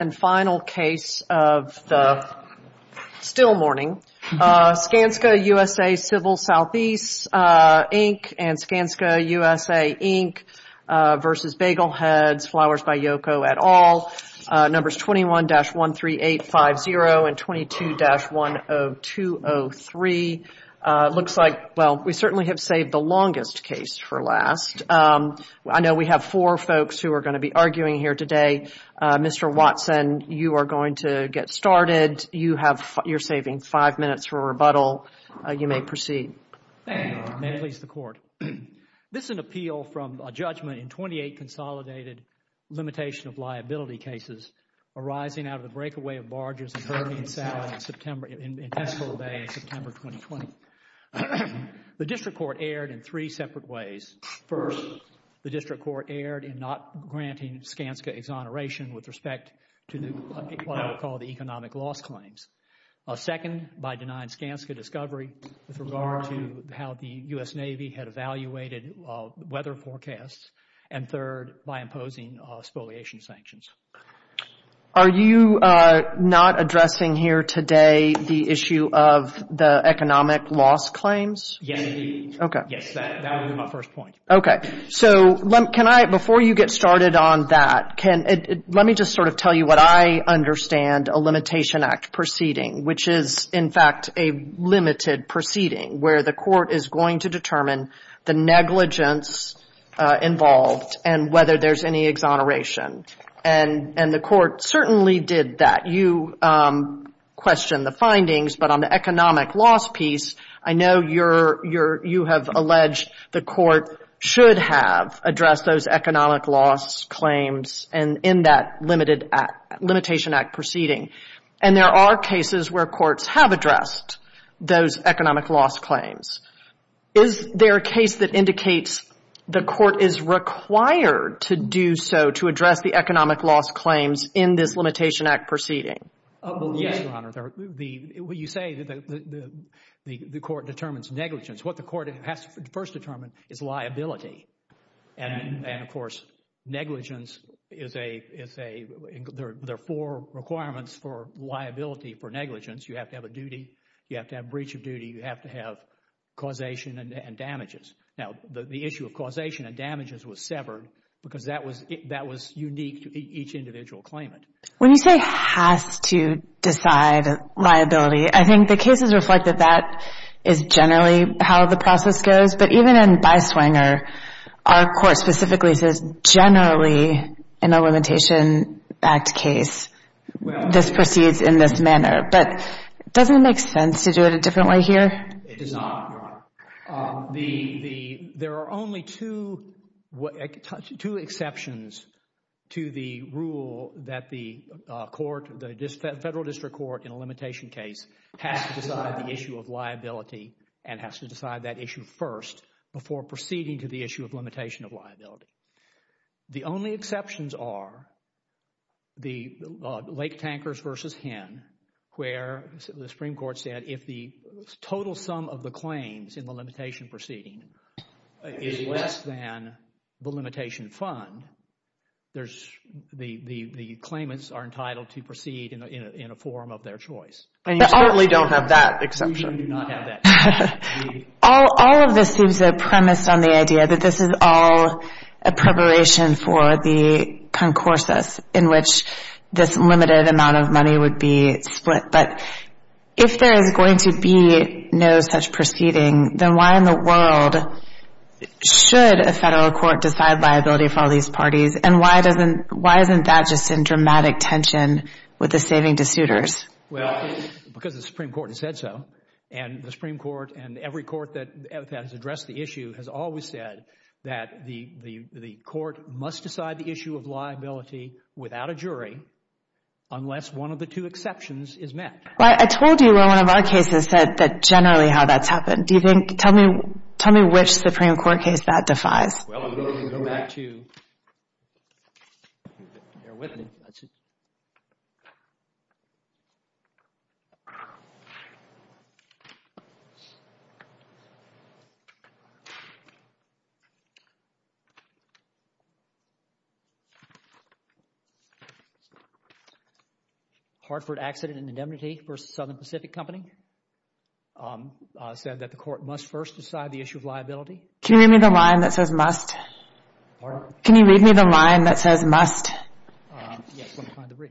And final case of the still morning, Skanska USA Civil Southeast, Inc. and Skanska USA, Inc. v. Bagelheads, Flowers by Yoko et al., numbers 21-13850 and 22-10203. Looks like, well, we certainly have saved the longest case for last. I know we have four folks who are going to be arguing here today. Mr. Watson, you are going to get started. You have, you are saving five minutes for rebuttal. You may proceed. Thank you, Your Honor. May it please the Court. This is an appeal from a judgment in twenty-eight consolidated limitation of liability cases arising out of the breakaway of barges in Birmingham, South, in September, in Pensacola Bay in September 2020. The District Court erred in three separate ways. First, the District Court erred in not granting Skanska exoneration with respect to what I would call the economic loss claims. Second, by denying Skanska discovery with regard to how the U.S. Navy had evaluated weather forecasts. And third, by imposing spoliation sanctions. Are you not addressing here today the issue of the economic loss claims? Yes, indeed. Okay. Yes, that would be my first point. Okay. So, can I, before you get started on that, can, let me just sort of tell you what I understand a limitation act proceeding, which is, in fact, a limited proceeding where the Court is going to determine the negligence involved and whether there's any exoneration. And the Court certainly did that. You question the findings, but on the economic loss piece, I know you're, you have alleged the Court should have addressed those economic loss claims in that limited act, limitation act proceeding. And there are cases where courts have addressed those economic loss claims. Is there a case that indicates the Court is required to do so to address the economic loss claims in this limitation act proceeding? Yes, Your Honor. You say that the Court determines negligence. What the Court has to first determine is liability. And, of course, negligence is a, there are four requirements for liability for negligence. You have to have a duty, you have to have breach of duty, you have to have causation and damages. Now, the issue of causation and damages was severed because that was unique to each individual claimant. When you say has to decide liability, I think the cases reflect that that is generally how the process goes. But even in Byswinger, our Court specifically says generally in a limitation act case, this proceeds in this manner. But doesn't it make sense to do it a different way here? It does not, Your Honor. The, the, there are only two, two exceptions to the rule that the Court, the Federal District Court in a limitation case has to decide the issue of liability and has to decide that issue first before proceeding to the issue of limitation of liability. The only exceptions are the Lake Tankers v. Hinn where the Supreme Court said if the total sum of the claims in the limitation proceeding is less than the limitation fund, there's, the claimants are entitled to proceed in a form of their choice. And you certainly don't have that exception. We do not have that. All, all of this seems a premise on the idea that this is all a preparation for the concorsus in which this limited amount of money would be split. But if there is going to be no such proceeding, then why in the world should a Federal Court decide liability for all these parties? And why doesn't, why isn't that just in dramatic tension with the saving de suitors? Well, because the Supreme Court has said so. And the Supreme Court and every court that has addressed the issue has always said that the, the, the Court must decide the issue of liability without a jury unless one of the two exceptions is met. Well, I, I told you where one of our cases said that generally how that's happened. Do you think, tell me, tell me which Supreme Court case that defies? Well, I'm going to go back to, if you're with me, let's see. Hartford Accident and Indemnity v. Southern Pacific Company said that the Court must first Can you read me the line that says must? Pardon? Can you read me the line that says must? Yes, I'm trying to read.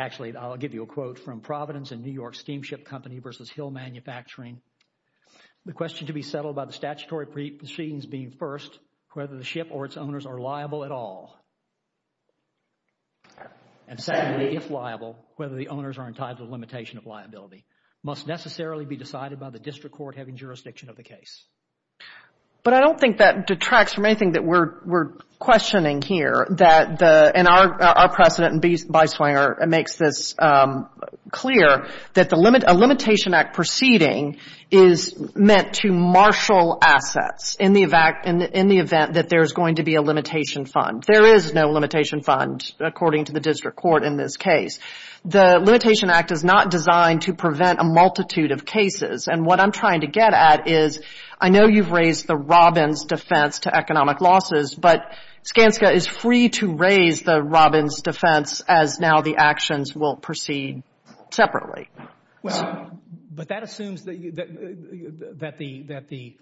Actually, I'll give you a quote from Providence and New York Steamship Company v. Hill Manufacturing. The question to be settled by the statutory proceedings being first, whether the ship or its owners are liable at all. And secondly, if liable, whether the owners are entitled to limitation of liability must necessarily be decided by the district court having jurisdiction of the case. But I don't think that detracts from anything that we're, we're questioning here, that the, and our, our precedent in Beiswanger makes this clear, that the limit, a limitation act proceeding is meant to marshal assets in the event, in the event that there's going to be a limitation fund. There is no limitation fund, according to the district court in this case. The limitation act is not designed to prevent a multitude of cases. And what I'm trying to get at is, I know you've raised the Robbins defense to economic losses, but Skanska is free to raise the Robbins defense as now the actions will proceed separately. Well, but that assumes that the, that the, that the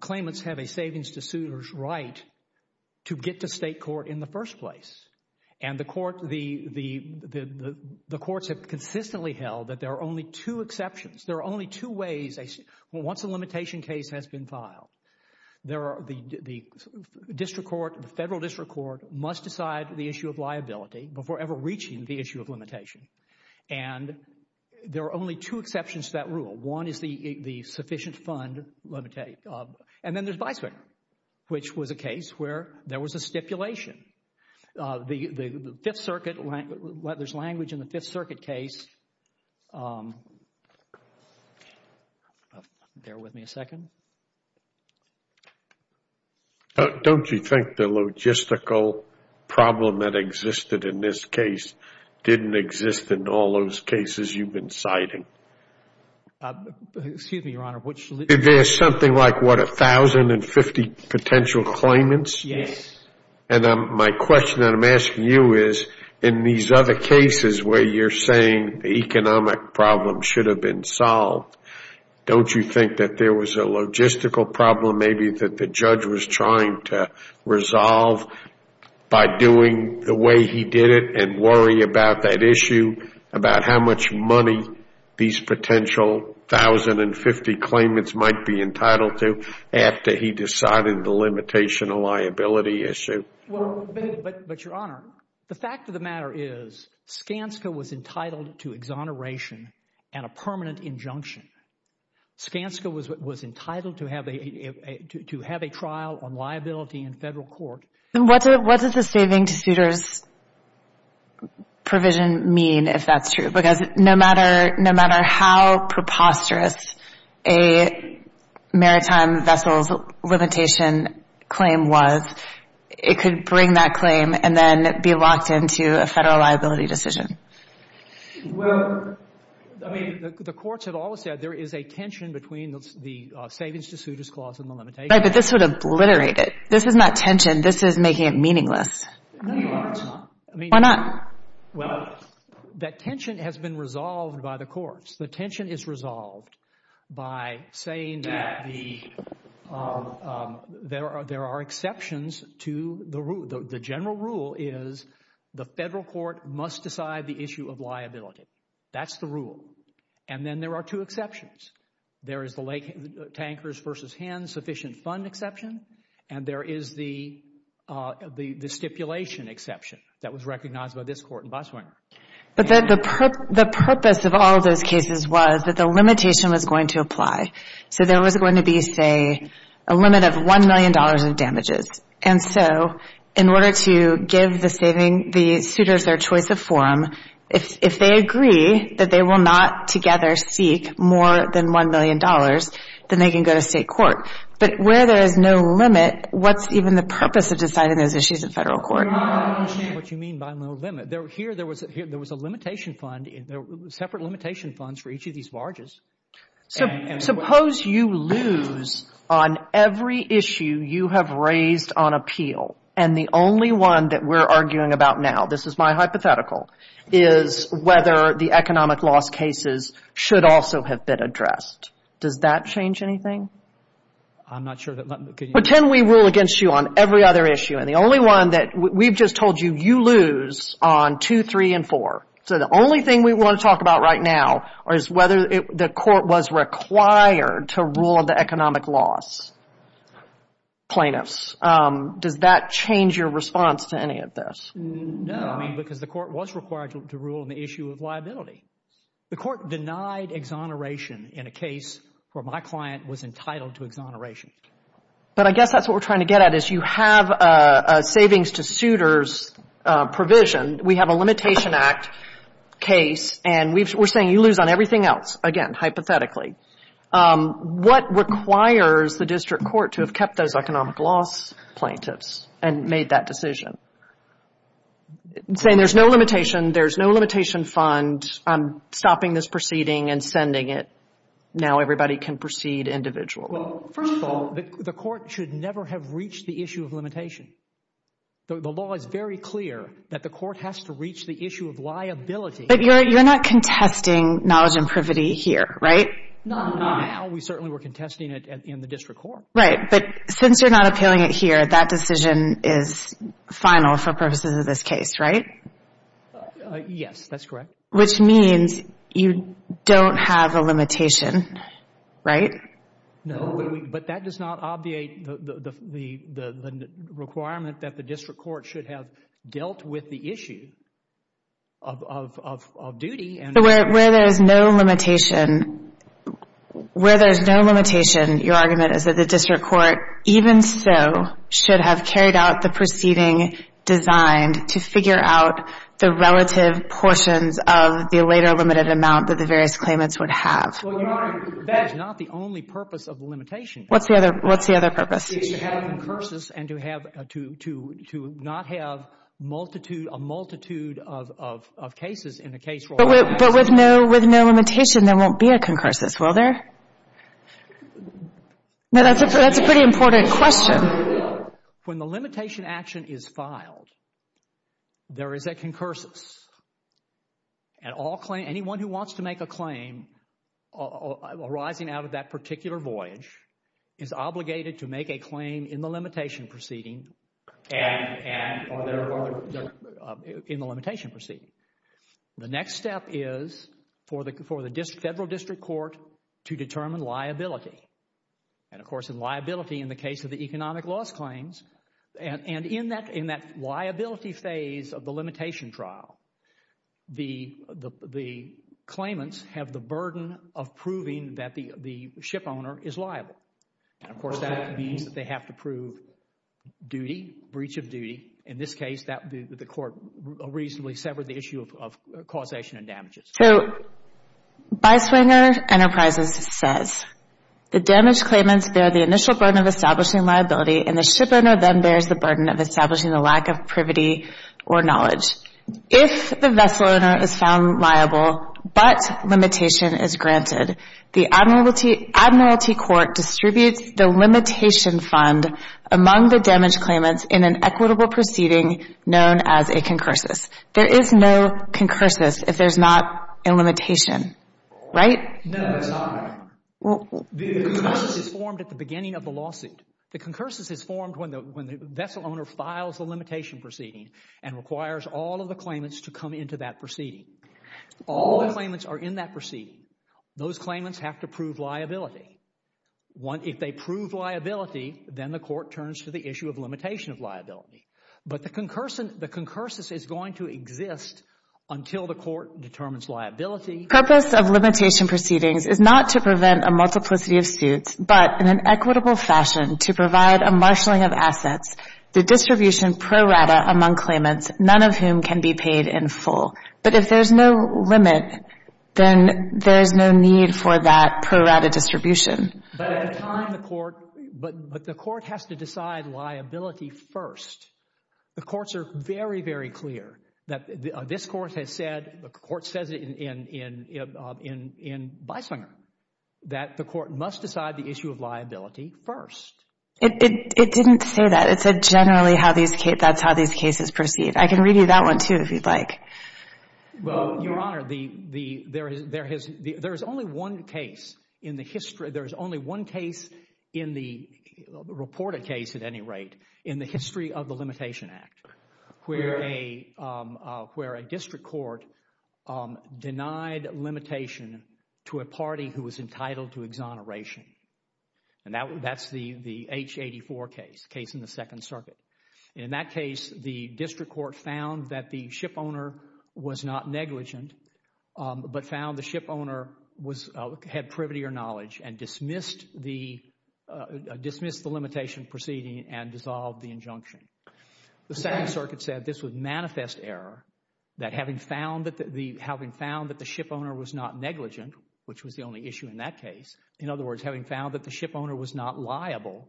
claimants have a savings to suitors right to get to state court in the first place. And the court, the, the, the courts have consistently held that there are only two exceptions. There are only two ways, once a limitation case has been filed, there are, the, the district court, the federal district court must decide the issue of liability before ever reaching the issue of limitation. And there are only two exceptions to that rule. One is the, the sufficient fund, and then there's Beiswanger, which was a case where there was a stipulation. The, the, the Fifth Circuit, there's language in the Fifth Circuit case, bear with me a second. Don't you think the logistical problem that existed in this case didn't exist in all those cases you've been citing? Excuse me, Your Honor. There's something like what, 1,050 potential claimants? Yes. And I'm, my question that I'm asking you is, in these other cases where you're saying the economic problem should have been solved, don't you think that there was a logistical problem, maybe that the judge was trying to resolve by doing the way he did it and worry about that issue, about how much money these potential 1,050 claimants might be entitled to after he decided the limitation of liability issue? Well, but, but, but, Your Honor, the fact of the matter is Skanska was entitled to exoneration and a permanent injunction. Skanska was, was entitled to have a, to have a trial on liability in Federal court. And what does the saving to suitors provision mean, if that's true? Because no matter, no matter how preposterous a maritime vessels limitation claim was, it could bring that claim and then be locked into a Federal liability decision. Well, I mean, the courts have always said there is a tension between the, the savings to suitors clause and the limitation. Right, but this would obliterate it. This is not tension. This is making it meaningless. No, Your Honor, it's not. I mean. Why not? Well, that tension has been resolved by the courts. The tension is resolved by saying that the, there are, there are exceptions to the rule. The general rule is the Federal court must decide the issue of liability. That's the rule. And then there are two exceptions. There is the lake tankers versus hens sufficient fund exception. And there is the, the stipulation exception that was recognized by this court in Botswana. But the purpose of all those cases was that the limitation was going to apply. So there was going to be, say, a limit of $1 million in damages. And so in order to give the saving, the suitors their choice of forum, if they agree that they will not together seek more than $1 million, then they can go to state court. But where there is no limit, what's even the purpose of deciding those issues in Federal court? Your Honor, I don't understand what you mean by no limit. Here there was a limitation fund, separate limitation funds for each of these barges. So suppose you lose on every issue you have raised on appeal and the only one that we're arguing about now, this is my hypothetical, is whether the economic loss cases should also have been addressed. Does that change anything? I'm not sure. Pretend we rule against you on every other issue and the only one that we've just told you, you lose on two, three, and four. So the only thing we want to talk about right now is whether the court was required to rule on the economic loss. Plaintiffs, does that change your response to any of this? No, because the court was required to rule on the issue of liability. The court denied exoneration in a case where my client was entitled to exoneration. But I guess that's what we're trying to get at is you have a savings to suitors provision. We have a limitation act case and we're saying you lose on everything else, again, hypothetically. What requires the district court to have kept those economic loss plaintiffs and made that decision? Saying there's no limitation, there's no limitation fund. I'm stopping this proceeding and sending it. Now everybody can proceed individually. Well, first of all, the court should never have reached the issue of limitation. The law is very clear that the court has to reach the issue of liability. But you're not contesting knowledge and privity here, right? No, we certainly were contesting it in the district court. Right, but since you're not appealing it here, that decision is final for purposes of this case, right? Yes, that's correct. Which means you don't have a limitation, right? No, but that does not obviate the requirement that the district court should have dealt with the issue of duty. So where there is no limitation, where there is no limitation, your argument is that the district court, even so, should have carried out the proceeding designed to figure out the relative portions of the later limited amount that the various claimants would have. Well, Your Honor, that's not the only purpose of the limitation. What's the other purpose? It's to have concurses and to not have a multitude of cases in the case. But with no limitation, there won't be a concurses, will there? That's a pretty important question. When the limitation action is filed, there is a concurses. Anyone who wants to make a claim arising out of that particular voyage is obligated to make a claim in the limitation proceeding and in the limitation proceeding. The next step is for the federal district court to determine liability. And, of course, in liability in the case of the economic loss claims, and in that liability phase of the limitation trial, the claimants have the burden of proving that the ship owner is liable. And, of course, that means that they have to prove duty, breach of duty. In this case, the court reasonably severed the issue of causation and damages. So, Byswinger Enterprises says, the damaged claimants bear the initial burden of establishing liability, and the ship owner then bears the burden of establishing the lack of privity or knowledge. If the vessel owner is found liable but limitation is granted, the admiralty court distributes the limitation fund among the damaged claimants in an equitable proceeding known as a concurses. There is no concurses if there's not a limitation, right? No, that's not right. The concurses is formed at the beginning of the lawsuit. The concurses is formed when the vessel owner files the limitation proceeding and requires all of the claimants to come into that proceeding. All the claimants are in that proceeding. Those claimants have to prove liability. If they prove liability, then the court turns to the issue of limitation of liability. But the concurses is going to exist until the court determines liability. The purpose of limitation proceedings is not to prevent a multiplicity of suits, but in an equitable fashion to provide a marshalling of assets, the distribution pro rata among claimants, none of whom can be paid in full. But if there's no limit, then there's no need for that pro rata distribution. But the court has to decide liability first. The courts are very, very clear that this court has said, the court says it in Bisinger, that the court must decide the issue of liability first. It didn't say that. It said generally that's how these cases proceed. I can read you that one, too, if you'd like. Well, Your Honor, there is only one case in the history, there is only one case in the reported case at any rate in the history of the Limitation Act where a district court denied limitation to a party who was entitled to exoneration. And that's the H84 case, the case in the Second Circuit. In that case, the district court found that the shipowner was not negligent but found the shipowner had privity or knowledge and dismissed the limitation proceeding and dissolved the injunction. The Second Circuit said this was manifest error, that having found that the shipowner was not negligent, which was the only issue in that case, in other words, having found that the shipowner was not liable,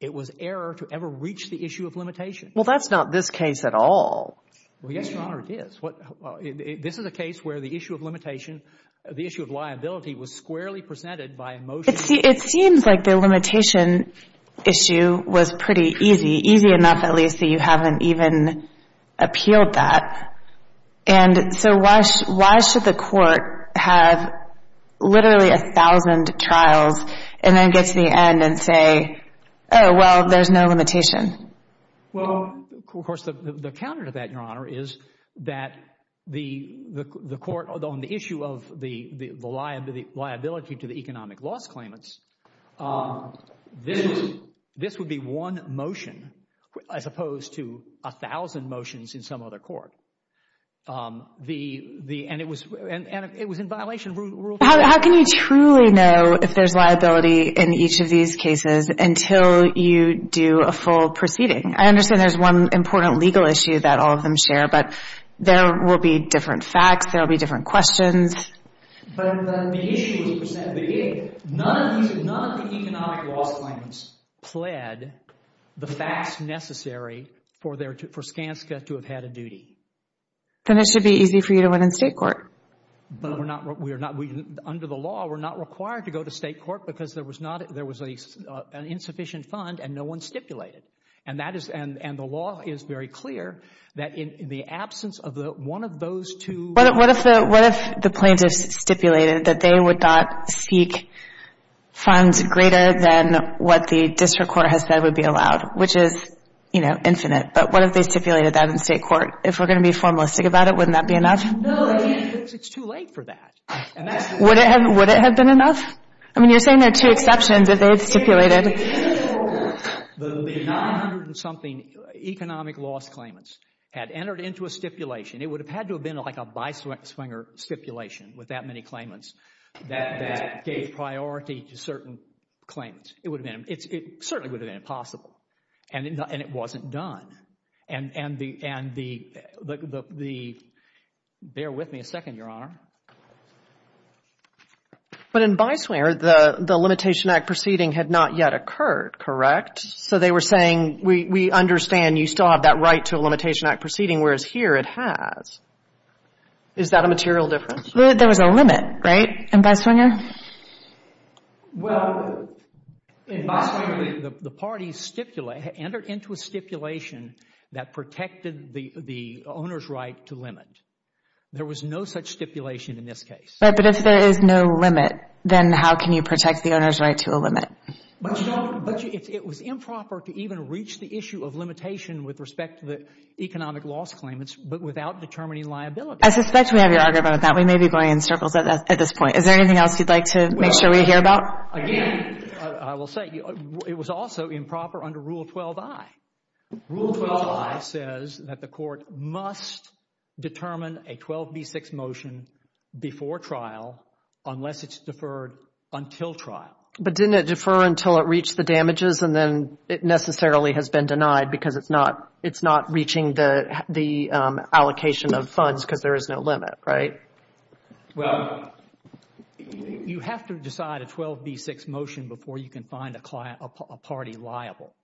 it was error to ever reach the issue of limitation. Well, that's not this case at all. Well, yes, Your Honor, it is. This is a case where the issue of limitation, the issue of liability, was squarely presented by motion. It seems like the limitation issue was pretty easy, easy enough at least that you haven't even appealed that. And so why should the court have literally a thousand trials and then get to the end and say, oh, well, there's no limitation? Well, of course, the counter to that, Your Honor, is that the court, on the issue of the liability to the economic loss claimants, this would be one motion as opposed to a thousand motions in some other court. And it was in violation of Rule 5. How can you truly know if there's liability in each of these cases until you do a full proceeding? I understand there's one important legal issue that all of them share, but there will be different facts, there will be different questions. But the issue was presented at the beginning. None of the economic loss claimants pled the facts necessary for Skanska to have had a duty. Then it should be easy for you to win in state court. Under the law, we're not required to go to state court because there was an insufficient fund and no one stipulated. And the law is very clear that in the absence of one of those two. What if the plaintiffs stipulated that they would not seek funds greater than what the district court has said would be allowed, which is, you know, infinite. But what if they stipulated that in state court? If we're going to be formalistic about it, wouldn't that be enough? No. It's too late for that. Would it have been enough? I mean, you're saying there are two exceptions if they had stipulated. The 900-and-something economic loss claimants had entered into a stipulation. It would have had to have been like a by-swinger stipulation with that many claimants that gave priority to certain claimants. It certainly would have been impossible. And it wasn't done. Bear with me a second, Your Honor. But in by-swinger, the Limitation Act proceeding had not yet occurred, correct? So they were saying, we understand you still have that right to a Limitation Act proceeding, whereas here it has. Is that a material difference? There was a limit, right, in by-swinger? Well, in by-swinger, the parties enter into a stipulation that protected the owner's right to limit. There was no such stipulation in this case. Right, but if there is no limit, then how can you protect the owner's right to a limit? But it was improper to even reach the issue of limitation with respect to the economic loss claimants, but without determining liability. I suspect we have your argument on that. We may be going in circles at this point. Is there anything else you'd like to make sure we hear about? Again, I will say, it was also improper under Rule 12i. Rule 12i says that the court must determine a 12b6 motion before trial unless it's deferred until trial. But didn't it defer until it reached the damages and then it necessarily has been denied because it's not reaching the allocation of funds because there is no limit, right? Well, you have to decide a 12b6 motion before you can find a party liable.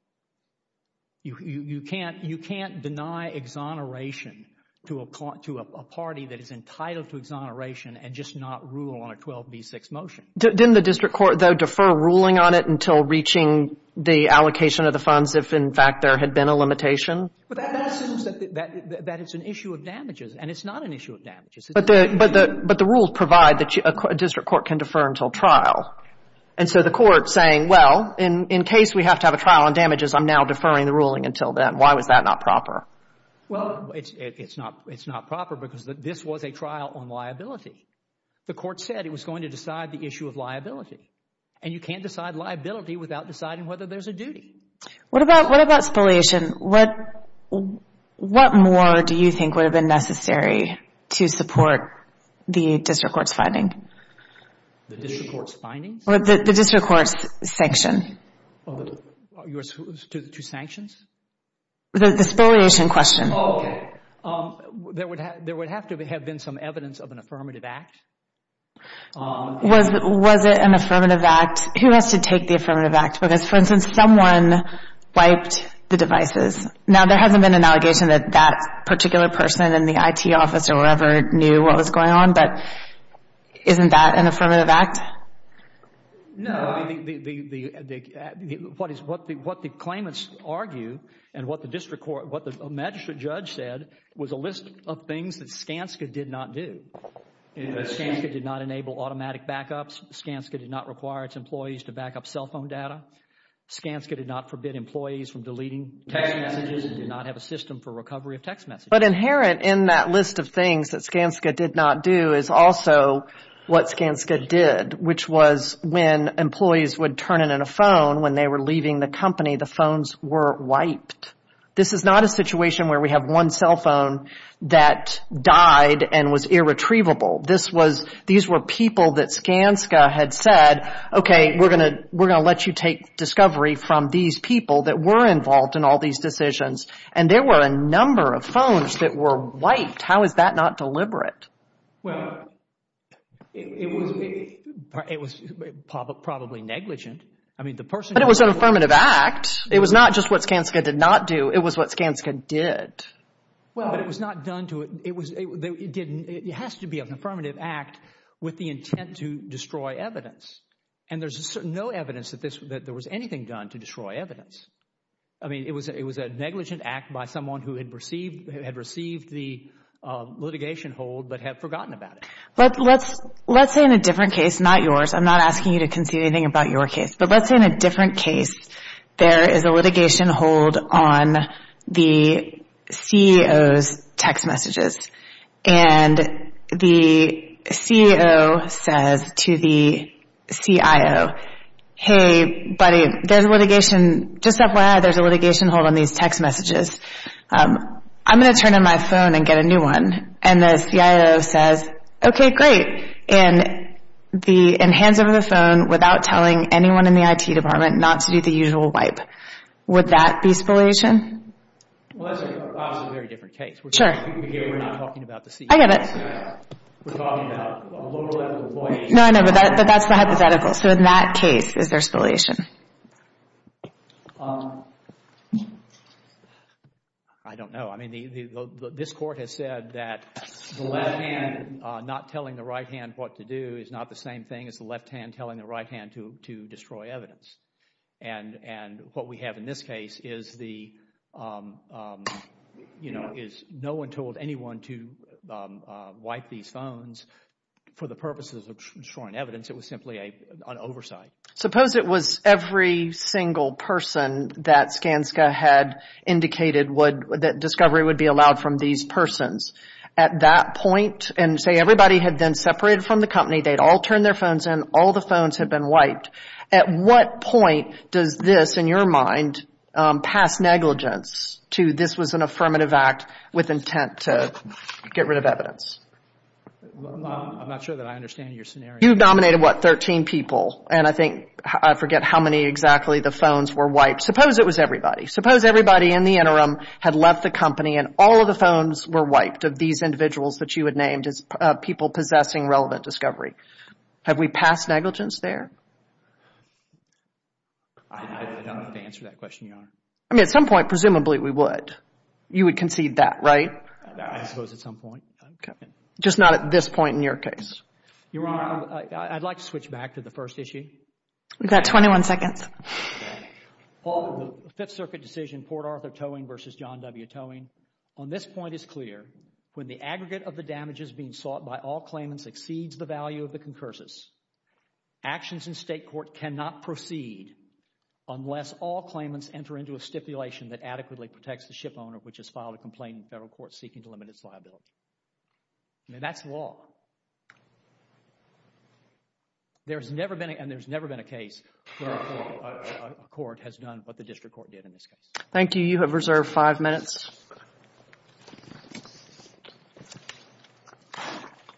You can't deny exoneration to a party that is entitled to exoneration and just not rule on a 12b6 motion. Didn't the district court, though, defer ruling on it until reaching the allocation of the funds if, in fact, there had been a limitation? But that assumes that it's an issue of damages, and it's not an issue of damages. But the rules provide that a district court can defer until trial. And so the court is saying, well, in case we have to have a trial on damages, I'm now deferring the ruling until then. Why was that not proper? Well, it's not proper because this was a trial on liability. The court said it was going to decide the issue of liability, and you can't decide liability without deciding whether there's a duty. What about spoliation? Spoliation, what more do you think would have been necessary to support the district court's finding? The district court's findings? The district court's sanction. To sanctions? The spoliation question. Oh, okay. There would have to have been some evidence of an affirmative act. Was it an affirmative act? Who has to take the affirmative act? Because, for instance, someone wiped the devices. Now, there hasn't been an allegation that that particular person in the IT office or whatever knew what was going on, but isn't that an affirmative act? No. What the claimants argue and what the magistrate judge said was a list of things that Skanska did not do. Skanska did not enable automatic backups. Skanska did not require its employees to backup cell phone data. Skanska did not forbid employees from deleting text messages. It did not have a system for recovery of text messages. But inherent in that list of things that Skanska did not do is also what Skanska did, which was when employees would turn in a phone when they were leaving the company, the phones were wiped. This is not a situation where we have one cell phone that died and was irretrievable. These were people that Skanska had said, okay, we're going to let you take discovery from these people that were involved in all these decisions. And there were a number of phones that were wiped. How is that not deliberate? Well, it was probably negligent. I mean, the person who did it. But it was an affirmative act. It was not just what Skanska did not do. It was what Skanska did. Well, but it was not done to it. It has to be an affirmative act with the intent to destroy evidence. And there's no evidence that there was anything done to destroy evidence. I mean, it was a negligent act by someone who had received the litigation hold but had forgotten about it. Let's say in a different case, not yours. I'm not asking you to concede anything about your case. But let's say in a different case, there is a litigation hold on the CEO's text messages. And the CEO says to the CIO, hey, buddy, there's a litigation. Just FYI, there's a litigation hold on these text messages. I'm going to turn in my phone and get a new one. And the CIO says, okay, great. And hands over the phone without telling anyone in the IT department not to do the usual wipe. Would that be spoliation? Well, that's a very different case. Sure. We're not talking about the CEO. I get it. We're talking about a lower level employee. No, I know. But that's the hypothetical. So in that case, is there spoliation? I don't know. This Court has said that the left hand not telling the right hand what to do is not the same thing as the left hand telling the right hand to destroy evidence. And what we have in this case is no one told anyone to wipe these phones for the purposes of destroying evidence. It was simply an oversight. Suppose it was every single person that Skanska had indicated that discovery would be allowed from these persons. At that point, and say everybody had been separated from the company, they'd all turned their phones in, all the phones had been wiped. At what point does this, in your mind, pass negligence to this was an affirmative act with intent to get rid of evidence? I'm not sure that I understand your scenario. You've nominated, what, 13 people. And I think, I forget how many exactly the phones were wiped. Suppose it was everybody. Suppose everybody in the interim had left the company and all of the phones were wiped of these individuals that you had named as people possessing relevant discovery. Have we passed negligence there? I don't have to answer that question, Your Honor. I mean, at some point, presumably, we would. You would concede that, right? I suppose at some point. Just not at this point in your case. Your Honor, I'd like to switch back to the first issue. We've got 21 seconds. Paul, the Fifth Circuit decision, Port Arthur Towing v. John W. Towing, on this point is clear. When the aggregate of the damages being sought by all claimants exceeds the value of the concursus, actions in state court cannot proceed unless all claimants enter into a stipulation that adequately protects the shipowner which has filed a complaint in federal court seeking to limit its liability. I mean, that's law. There's never been, and there's never been a case where a court has done what the district court did in this case. Thank you. You have reserved five minutes.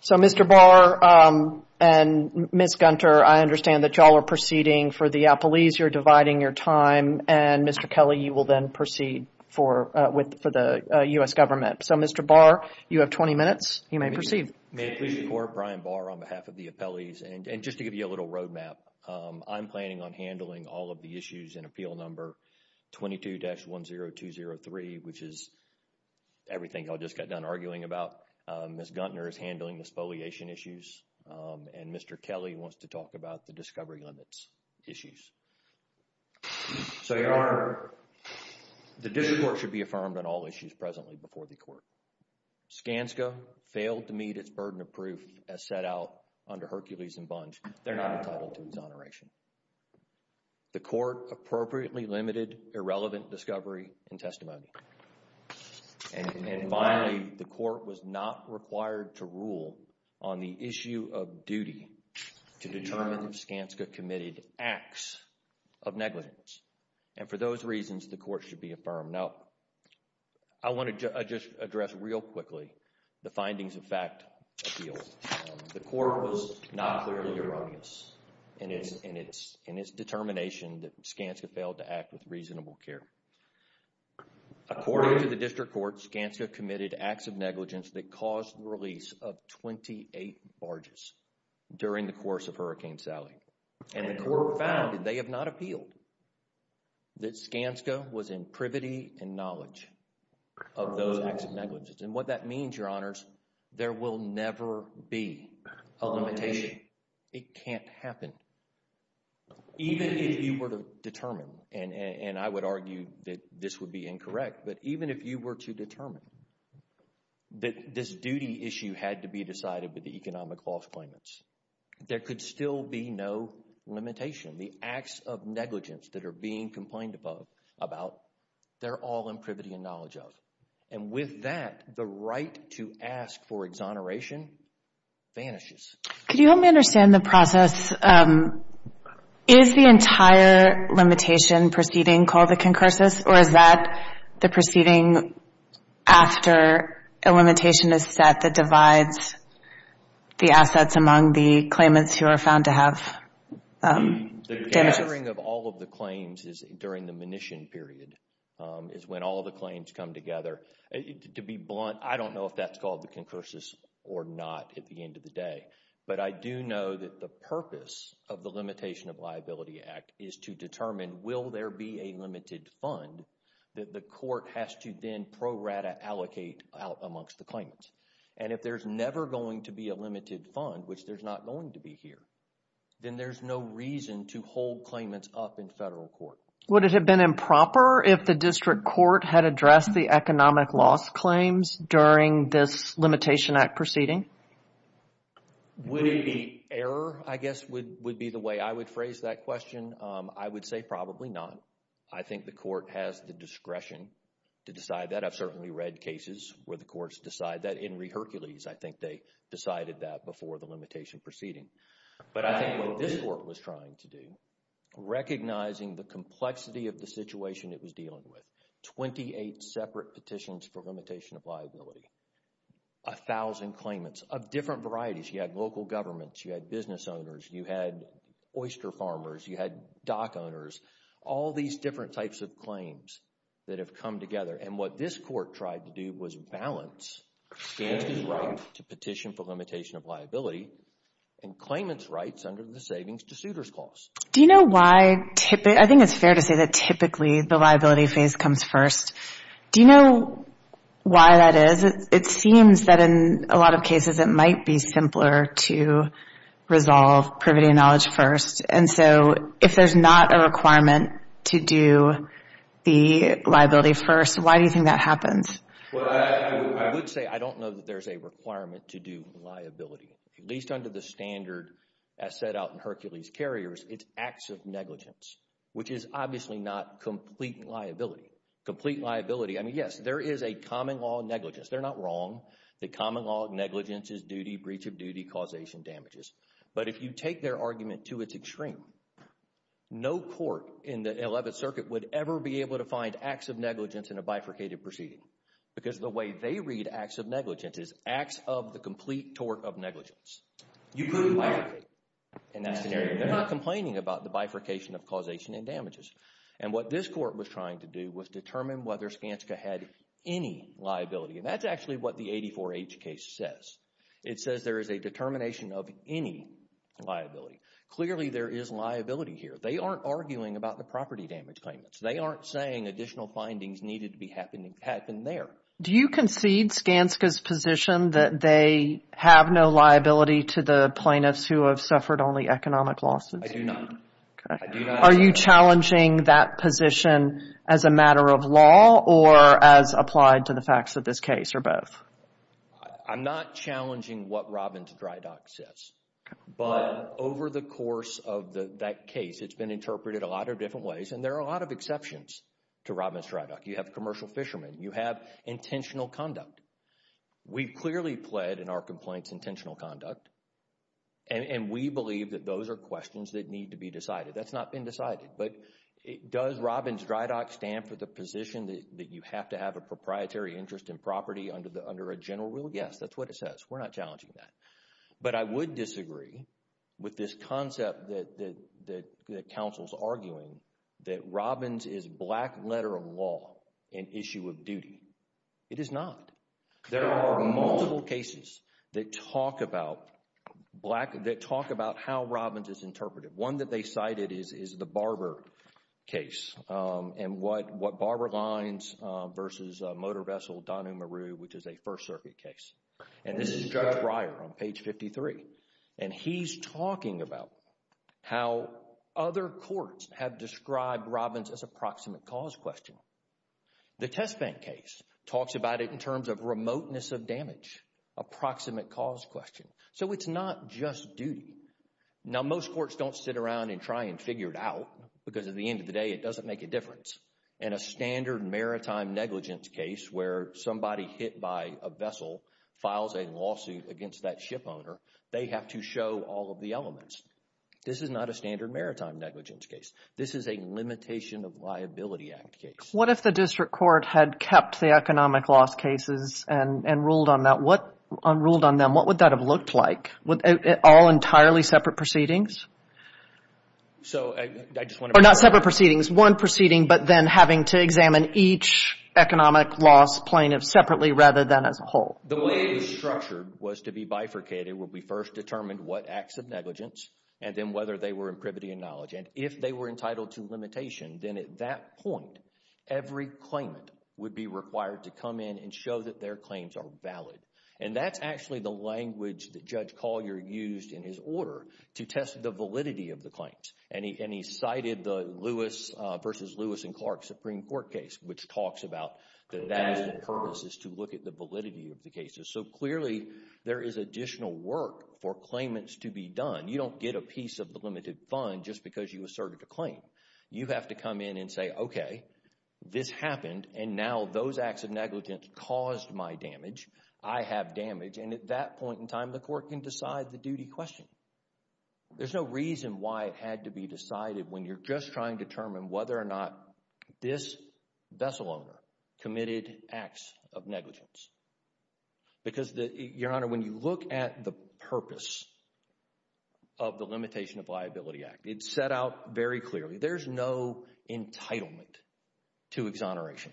So, Mr. Barr and Ms. Gunter, I understand that you all are proceeding for the Appalese. You're dividing your time. And, Mr. Kelly, you will then proceed for the U.S. government. So, Mr. Barr, you have 20 minutes. You may proceed. May I please report, Brian Barr, on behalf of the Appalese, and just to give you a little road map, I'm planning on handling all of the issues in Appeal Number 22-10203, which is everything I just got done arguing about. Ms. Gunter is handling the spoliation issues, and Mr. Kelly wants to talk about the discovery limits issues. So, Your Honor, the district court should be affirmed on all issues presently before the court. Skanska failed to meet its burden of proof as set out under Hercules and Bunch. They're not entitled to exoneration. The court appropriately limited irrelevant discovery and testimony. And finally, the court was not required to rule on the issue of duty to determine if Skanska committed acts of negligence. And for those reasons, the court should be affirmed no. I want to just address real quickly the findings of Fact Appeals. The court was not clearly erroneous in its determination that Skanska failed to act with reasonable care. According to the district court, Skanska committed acts of negligence that caused the release of 28 barges during the course of Hurricane Sally. And the court found, and they have not appealed, that Skanska was in privity and knowledge of those acts of negligence. And what that means, Your Honors, there will never be a limitation. It can't happen. Even if you were to determine, and I would argue that this would be incorrect, but even if you were to determine that this duty issue had to be decided with the economic false claimants, there could still be no limitation. The acts of negligence that are being complained about, they're all in privity and knowledge of. And with that, the right to ask for exoneration vanishes. Could you help me understand the process? Is the entire limitation proceeding called the concursus, or is that the proceeding after a limitation is set that divides the assets among the claimants who are found to have damage? The measuring of all of the claims is during the munition period, is when all the claims come together. To be blunt, I don't know if that's called the concursus or not at the end of the day. But I do know that the purpose of the Limitation of Liability Act is to determine, will there be a limited fund that the court has to then pro rata allocate out amongst the claimants? And if there's never going to be a limited fund, which there's not going to be here, then there's no reason to hold claimants up in federal court. Would it have been improper if the district court had addressed the economic loss claims during this Limitation Act proceeding? Would it be error, I guess, would be the way I would phrase that question. I would say probably not. I think the court has the discretion to decide that. I've certainly read cases where the courts decide that. In Hercules, I think they decided that before the limitation proceeding. But I think what this court was trying to do, recognizing the complexity of the situation it was dealing with, 28 separate petitions for limitation of liability, 1,000 claimants of different varieties. You had local governments, you had business owners, you had oyster farmers, you had dock owners, all these different types of claims that have come together. And what this court tried to do was balance Gansky's right to petition for limitation of liability and claimants' rights under the Savings-to-Suitors Clause. Do you know why, I think it's fair to say that typically the liability phase comes first. Do you know why that is? It seems that in a lot of cases it might be simpler to resolve privity and knowledge first. And so if there's not a requirement to do the liability first, why do you think that happens? Well, I would say I don't know that there's a requirement to do liability. At least under the standard as set out in Hercules Carriers, it's acts of negligence, which is obviously not complete liability. Complete liability, I mean, yes, there is a common law of negligence. They're not wrong. The common law of negligence is duty, breach of duty, causation damages. But if you take their argument to its extreme, no court in the 11th Circuit would ever be able to find acts of negligence in a bifurcated proceeding because the way they read acts of negligence is acts of the complete tort of negligence. You couldn't bifurcate in that scenario. They're not complaining about the bifurcation of causation and damages. And what this court was trying to do was determine whether Skanska had any liability. And that's actually what the 84H case says. It says there is a determination of any liability. Clearly there is liability here. They aren't arguing about the property damage claimants. They aren't saying additional findings needed to happen there. Do you concede Skanska's position that they have no liability to the plaintiffs who have suffered only economic losses? I do not. Are you challenging that position as a matter of law or as applied to the facts of this case or both? I'm not challenging what Robbins-Drydock says. But over the course of that case, it's been interpreted a lot of different ways. And there are a lot of exceptions to Robbins-Drydock. You have commercial fishermen. You have intentional conduct. We've clearly pled in our complaints intentional conduct. And we believe that those are questions that need to be decided. That's not been decided. But does Robbins-Drydock stand for the position that you have to have a proprietary interest in property under a general rule? Yes, that's what it says. We're not challenging that. But I would disagree with this concept that counsel is arguing that Robbins is black letter of law and issue of duty. It is not. There are multiple cases that talk about how Robbins is interpreted. One that they cited is the Barber case. And what Barber lines versus a motor vessel, Donu-Maru, which is a First Circuit case. And this is Judge Breyer on page 53. And he's talking about how other courts have described Robbins as a proximate cause question. The test bank case talks about it in terms of remoteness of damage, a proximate cause question. So it's not just duty. Now, most courts don't sit around and try and figure it out because at the end of the day, it doesn't make a difference. In a standard maritime negligence case where somebody hit by a vessel files a lawsuit against that ship owner, they have to show all of the elements. This is not a standard maritime negligence case. This is a Limitation of Liability Act case. What if the district court had kept the economic loss cases and ruled on them? What would that have looked like? All entirely separate proceedings? Not separate proceedings, one proceeding, but then having to examine each economic loss plaintiff separately rather than as a whole. The way it was structured was to be bifurcated where we first determined what acts of negligence and then whether they were in privity and knowledge. And if they were entitled to limitation, then at that point, every claimant would be required to come in and show that their claims are valid. And that's actually the language that Judge Collier used in his order to test the validity of the claims. And he cited the Lewis v. Lewis v. Clark Supreme Court case, which talks about that that is the purpose is to look at the validity of the cases. So clearly, there is additional work for claimants to be done. You don't get a piece of the limited fund just because you asserted a claim. You have to come in and say, okay, this happened, and now those acts of negligence caused my damage. I have damage. And at that point in time, the court can decide the duty question. There's no reason why it had to be decided when you're just trying to determine whether or not this vessel owner committed acts of negligence. Because, Your Honor, when you look at the purpose of the Limitation of Liability Act, it's set out very clearly. There's no entitlement to exoneration.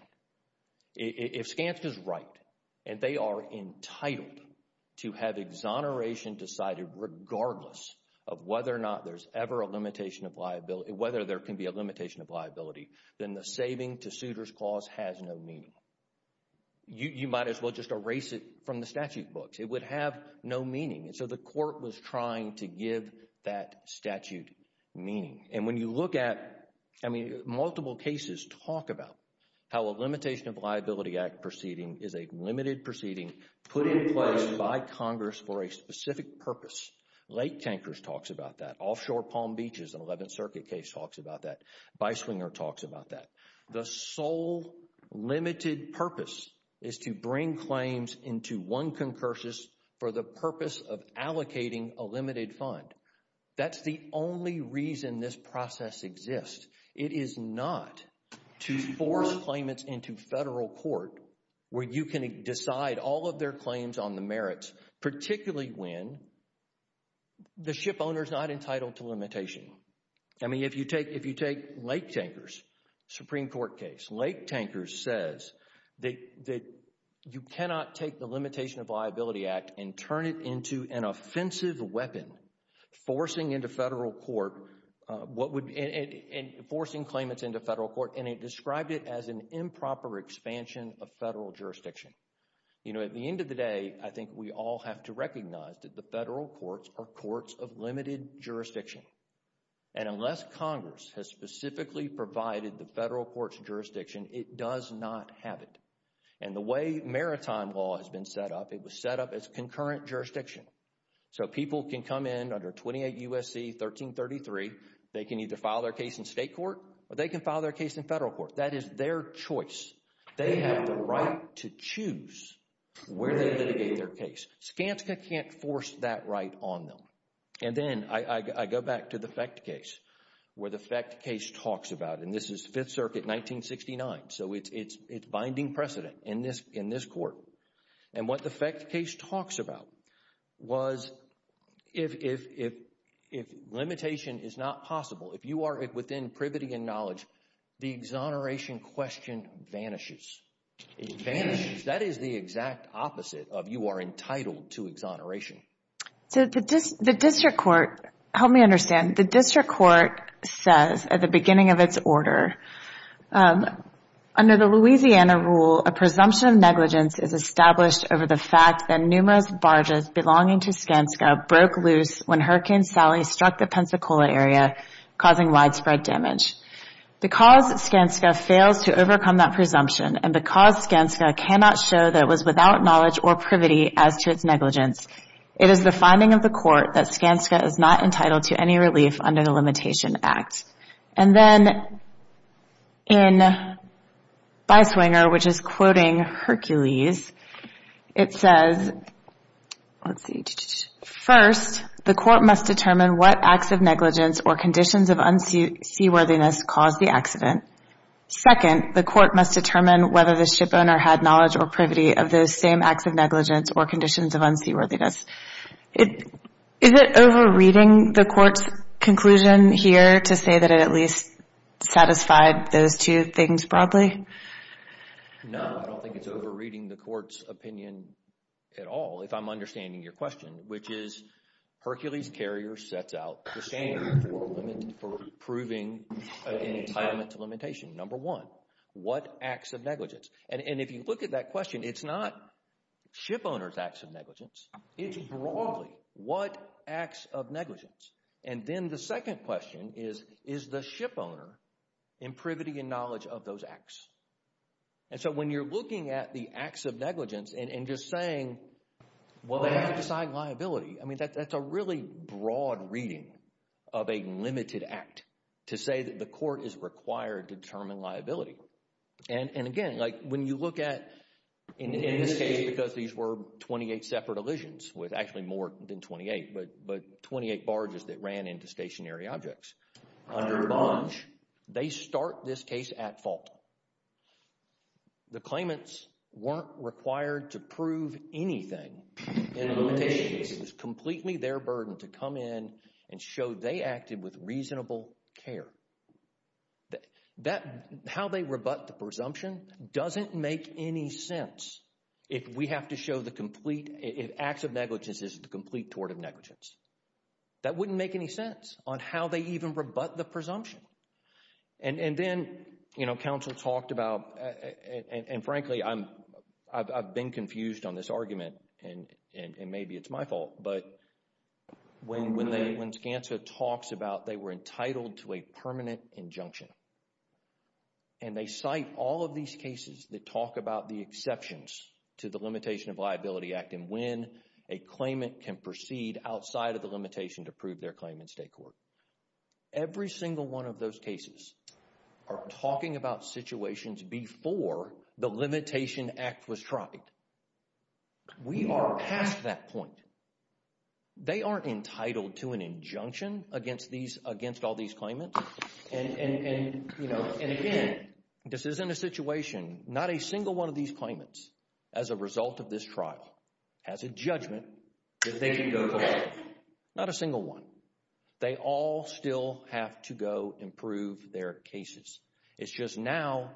If Skanska is right and they are entitled to have exoneration decided regardless of whether or not there's ever a limitation of liability, whether there can be a limitation of liability, then the saving to suitor's clause has no meaning. You might as well just erase it from the statute books. It would have no meaning. And so the court was trying to give that statute meaning. And when you look at, I mean, multiple cases talk about how a Limitation of Liability Act proceeding is a limited proceeding put in place by Congress for a specific purpose. Lake Tankers talks about that. Offshore Palm Beaches, an 11th Circuit case, talks about that. Biswinger talks about that. The sole limited purpose is to bring claims into one concursus for the purpose of allocating a limited fund. That's the only reason this process exists. It is not to force claimants into federal court where you can decide all of their claims on the merits, particularly when the ship owner is not entitled to limitation. I mean if you take Lake Tankers, Supreme Court case, Lake Tankers says that you cannot take the Limitation of Liability Act and turn it into an offensive weapon forcing into federal court what would – forcing claimants into federal court. And it described it as an improper expansion of federal jurisdiction. You know, at the end of the day, I think we all have to recognize that the federal courts are courts of limited jurisdiction. And unless Congress has specifically provided the federal court's jurisdiction, it does not have it. And the way maritime law has been set up, it was set up as concurrent jurisdiction. So people can come in under 28 U.S.C. 1333. They can either file their case in state court or they can file their case in federal court. That is their choice. They have the right to choose where they litigate their case. Skanska can't force that right on them. And then I go back to the FECT case where the FECT case talks about, and this is Fifth Circuit 1969, so it's binding precedent in this court. And what the FECT case talks about was if limitation is not possible, if you are within privity and knowledge, the exoneration question vanishes. It vanishes. That is the exact opposite of you are entitled to exoneration. So the district court, help me understand, the district court says at the beginning of its order, under the Louisiana rule, a presumption of negligence is established over the fact that numerous barges belonging to Skanska broke loose when Hurricane Sally struck the Pensacola area, causing widespread damage. Because Skanska fails to overcome that presumption and because Skanska cannot show that it was without knowledge or privity as to its negligence, it is the finding of the court that Skanska is not entitled to any relief under the Limitation Act. And then in Byswinger, which is quoting Hercules, it says, let's see, first, the court must determine what acts of negligence or conditions of unseaworthiness caused the accident. Second, the court must determine whether the shipowner had knowledge or privity of those same acts of negligence or conditions of unseaworthiness. Is it overreading the court's conclusion here to say that it at least satisfied those two things broadly? No, I don't think it's overreading the court's opinion at all, if I'm understanding your question, which is Hercules Carrier sets out the standard for proving an entitlement to limitation. Number one, what acts of negligence? And if you look at that question, it's not shipowner's acts of negligence. It's broadly what acts of negligence? And then the second question is, is the shipowner in privity and knowledge of those acts? And so when you're looking at the acts of negligence and just saying, well, they have to sign liability, I mean, that's a really broad reading of a limited act to say that the court is required to determine liability. And again, like when you look at, in this case, because these were 28 separate elisions, with actually more than 28, but 28 barges that ran into stationary objects, under a barge, they start this case at fault. The claimants weren't required to prove anything in a limitation case. It was completely their burden to come in and show they acted with reasonable care. How they rebut the presumption doesn't make any sense if we have to show the complete – if acts of negligence isn't the complete tort of negligence. That wouldn't make any sense on how they even rebut the presumption. And then, you know, counsel talked about, and frankly, I've been confused on this argument, and maybe it's my fault, but when Skanska talks about they were entitled to a permanent injunction, and they cite all of these cases that talk about the exceptions to the Limitation of Liability Act and when a claimant can proceed outside of the limitation to prove their claim in state court. Every single one of those cases are talking about situations before the Limitation Act was tried. We are past that point. They aren't entitled to an injunction against all these claimants. And again, this isn't a situation – not a single one of these claimants as a result of this trial has a judgment that they can go to court. Not a single one. They all still have to go improve their cases. It's just now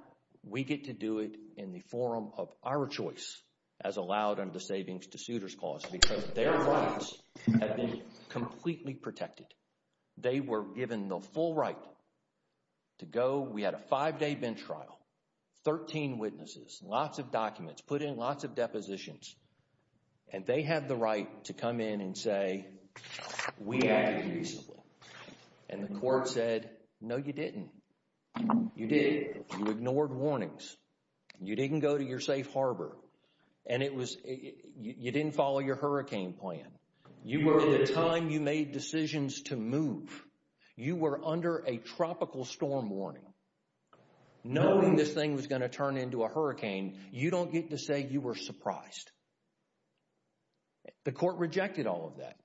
we get to do it in the form of our choice as allowed under the Savings to Suitors Clause because their rights have been completely protected. They were given the full right to go. We had a five-day bench trial. Thirteen witnesses. Lots of documents. Put in lots of depositions. And they had the right to come in and say, We acted reasonably. And the court said, No, you didn't. You did. You ignored warnings. You didn't go to your safe harbor. And it was – you didn't follow your hurricane plan. You were in the time you made decisions to move. You were under a tropical storm warning. Knowing this thing was going to turn into a hurricane, you don't get to say you were surprised. The court rejected all of that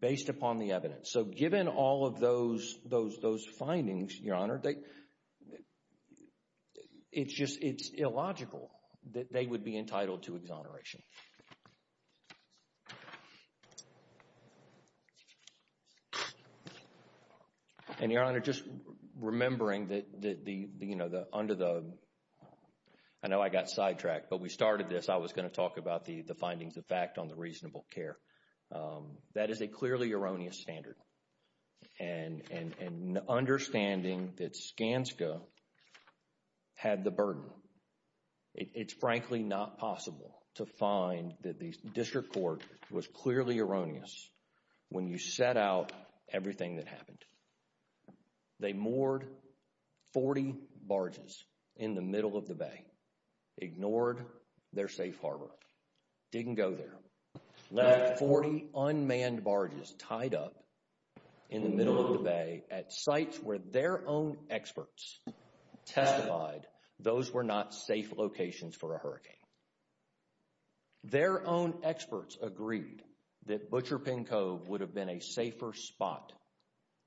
based upon the evidence. So given all of those findings, Your Honor, it's illogical that they would be entitled to exoneration. And, Your Honor, just remembering that under the – I know I got sidetracked, but we started this. I was going to talk about the findings of fact on the reasonable care. That is a clearly erroneous standard. And understanding that Skanska had the burden. It's frankly not possible to find that the district court was clearly erroneous when you set out everything that happened. They moored 40 barges in the middle of the bay, ignored their safe harbor, didn't go there, left 40 unmanned barges tied up in the middle of the bay at sites where their own experts testified those were not safe locations for a hurricane. Their own experts agreed that Butcher Pin Cove would have been a safer spot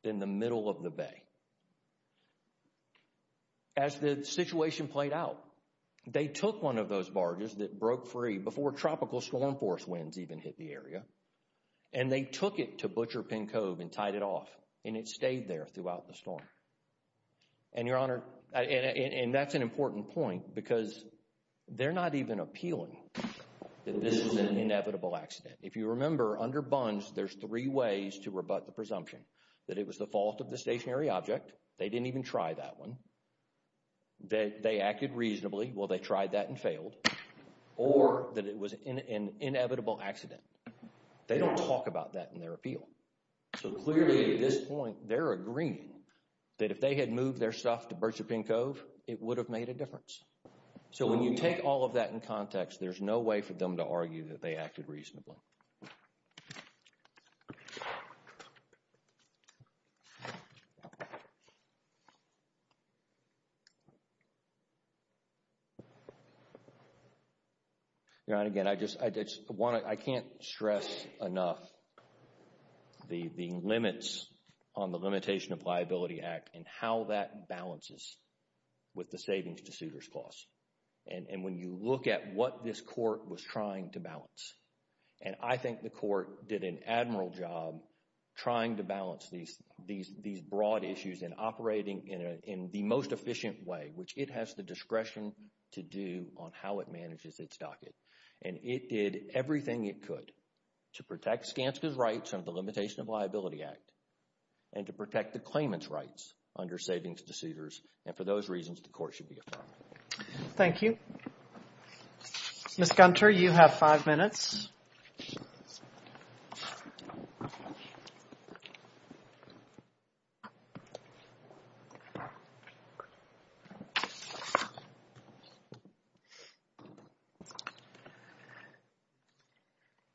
than the middle of the bay. As the situation played out, they took one of those barges that broke free before tropical storm force winds even hit the area, and they took it to Butcher Pin Cove and tied it off, and it stayed there throughout the storm. And, Your Honor, and that's an important point because they're not even appealing that this is an inevitable accident. If you remember, under BUNS, there's three ways to rebut the presumption that it was the fault of the stationary object. They didn't even try that one. They acted reasonably. Well, they tried that and failed. Or that it was an inevitable accident. They don't talk about that in their appeal. So clearly, at this point, they're agreeing that if they had moved their stuff to Butcher Pin Cove, it would have made a difference. So when you take all of that in context, there's no way for them to argue that they acted reasonably. Your Honor, again, I just want to, I can't stress enough the limits on the Limitation of Liability Act and how that balances with the savings to suitor's costs. And when you look at what this court was trying to balance, and I think the court did an admiral job trying to balance these broad issues and operating in the most efficient way, which it has the discretion to do on how it manages its docket. And it did everything it could to protect Skanska's rights under the Limitation of Liability Act and to protect the claimant's rights under savings to suitors. And for those reasons, the court should be affirmed. Thank you. Ms. Gunter, you have five minutes.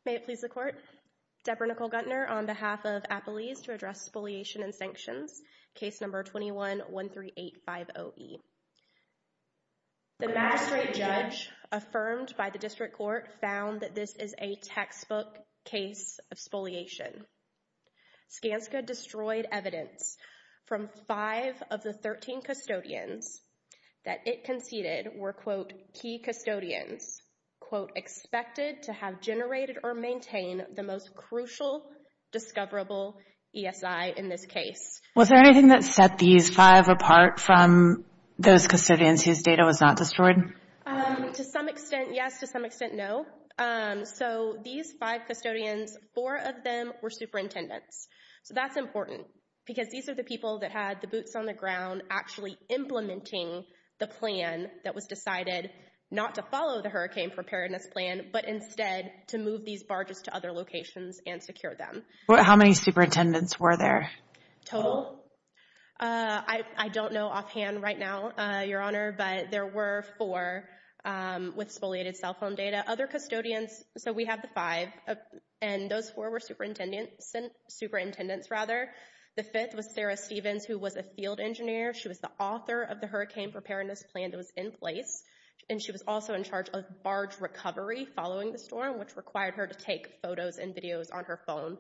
May it please the Court. Deborah Nicole Guntner on behalf of Appalese to address Spoliation and Sanctions, case number 21-13850E. The magistrate judge affirmed by the district court found that this is a textbook case of spoliation. Skanska destroyed evidence from five of the 13 custodians that it conceded were, quote, key custodians, quote, expected to have generated or maintain the most crucial discoverable ESI in this case. Was there anything that set these five apart from those custodians whose data was not destroyed? To some extent, yes. To some extent, no. So these five custodians, four of them were superintendents. So that's important because these are the people that had the boots on the ground actually implementing the plan that was decided not to follow the hurricane preparedness plan but instead to move these barges to other locations and secure them. How many superintendents were there? Total? I don't know offhand right now, Your Honor, but there were four with spoliated cell phone data. Other custodians, so we have the five, and those four were superintendents. The fifth was Sarah Stevens, who was a field engineer. She was the author of the hurricane preparedness plan that was in place, and she was also in charge of barge recovery following the storm, which required her to take photos and videos on her phone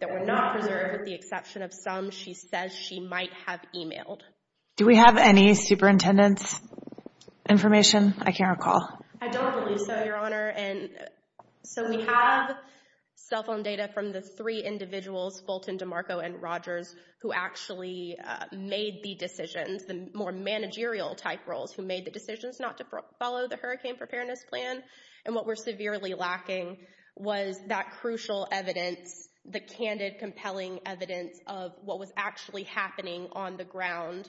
that were not preserved with the exception of some. She says she might have emailed. Do we have any superintendents' information? I can't recall. I don't believe so, Your Honor. So we have cell phone data from the three individuals, Fulton, DeMarco, and Rogers, who actually made the decisions, the more managerial-type roles who made the decisions not to follow the hurricane preparedness plan, and what we're severely lacking was that crucial evidence, the candid, compelling evidence of what was actually happening on the ground.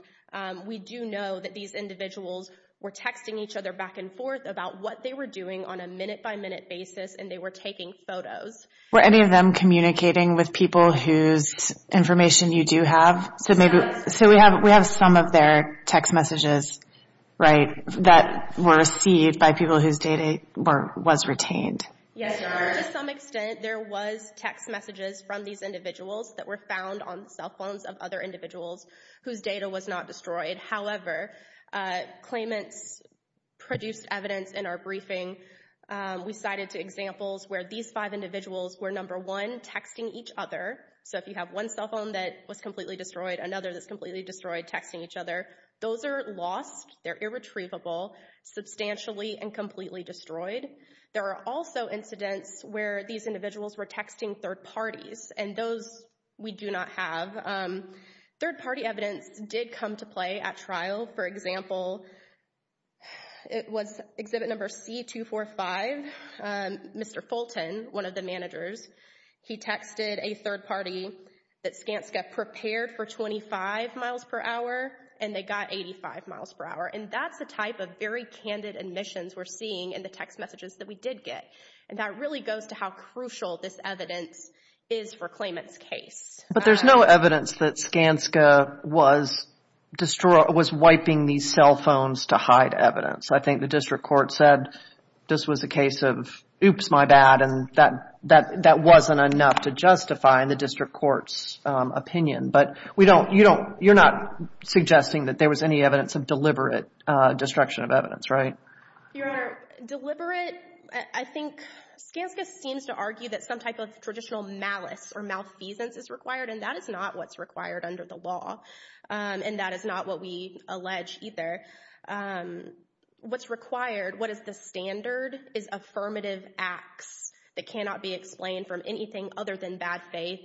We do know that these individuals were texting each other back and forth about what they were doing on a minute-by-minute basis, and they were taking photos. Were any of them communicating with people whose information you do have? So we have some of their text messages, right, that were received by people whose data was retained. Yes, Your Honor. To some extent, there was text messages from these individuals that were found on cell phones of other individuals whose data was not destroyed. However, claimants produced evidence in our briefing. We cited two examples where these five individuals were, number one, texting each other. So if you have one cell phone that was completely destroyed, another that's completely destroyed texting each other. Those are lost. They're irretrievable, substantially and completely destroyed. There are also incidents where these individuals were texting third parties, and those we do not have. Third-party evidence did come to play at trial. For example, it was exhibit number C245. Mr. Fulton, one of the managers, he texted a third party that Skanska prepared for 25 miles per hour, and they got 85 miles per hour. And that's the type of very candid admissions we're seeing in the text messages that we did get. And that really goes to how crucial this evidence is for claimant's case. But there's no evidence that Skanska was wiping these cell phones to hide evidence. I think the district court said this was a case of oops, my bad, and that wasn't enough to justify in the district court's opinion. But you're not suggesting that there was any evidence of deliberate destruction of evidence, right? Your Honor, deliberate, I think Skanska seems to argue that some type of traditional malice or malfeasance is required, and that is not what's required under the law. And that is not what we allege either. What's required, what is the standard, is affirmative acts that cannot be explained from anything other than bad faith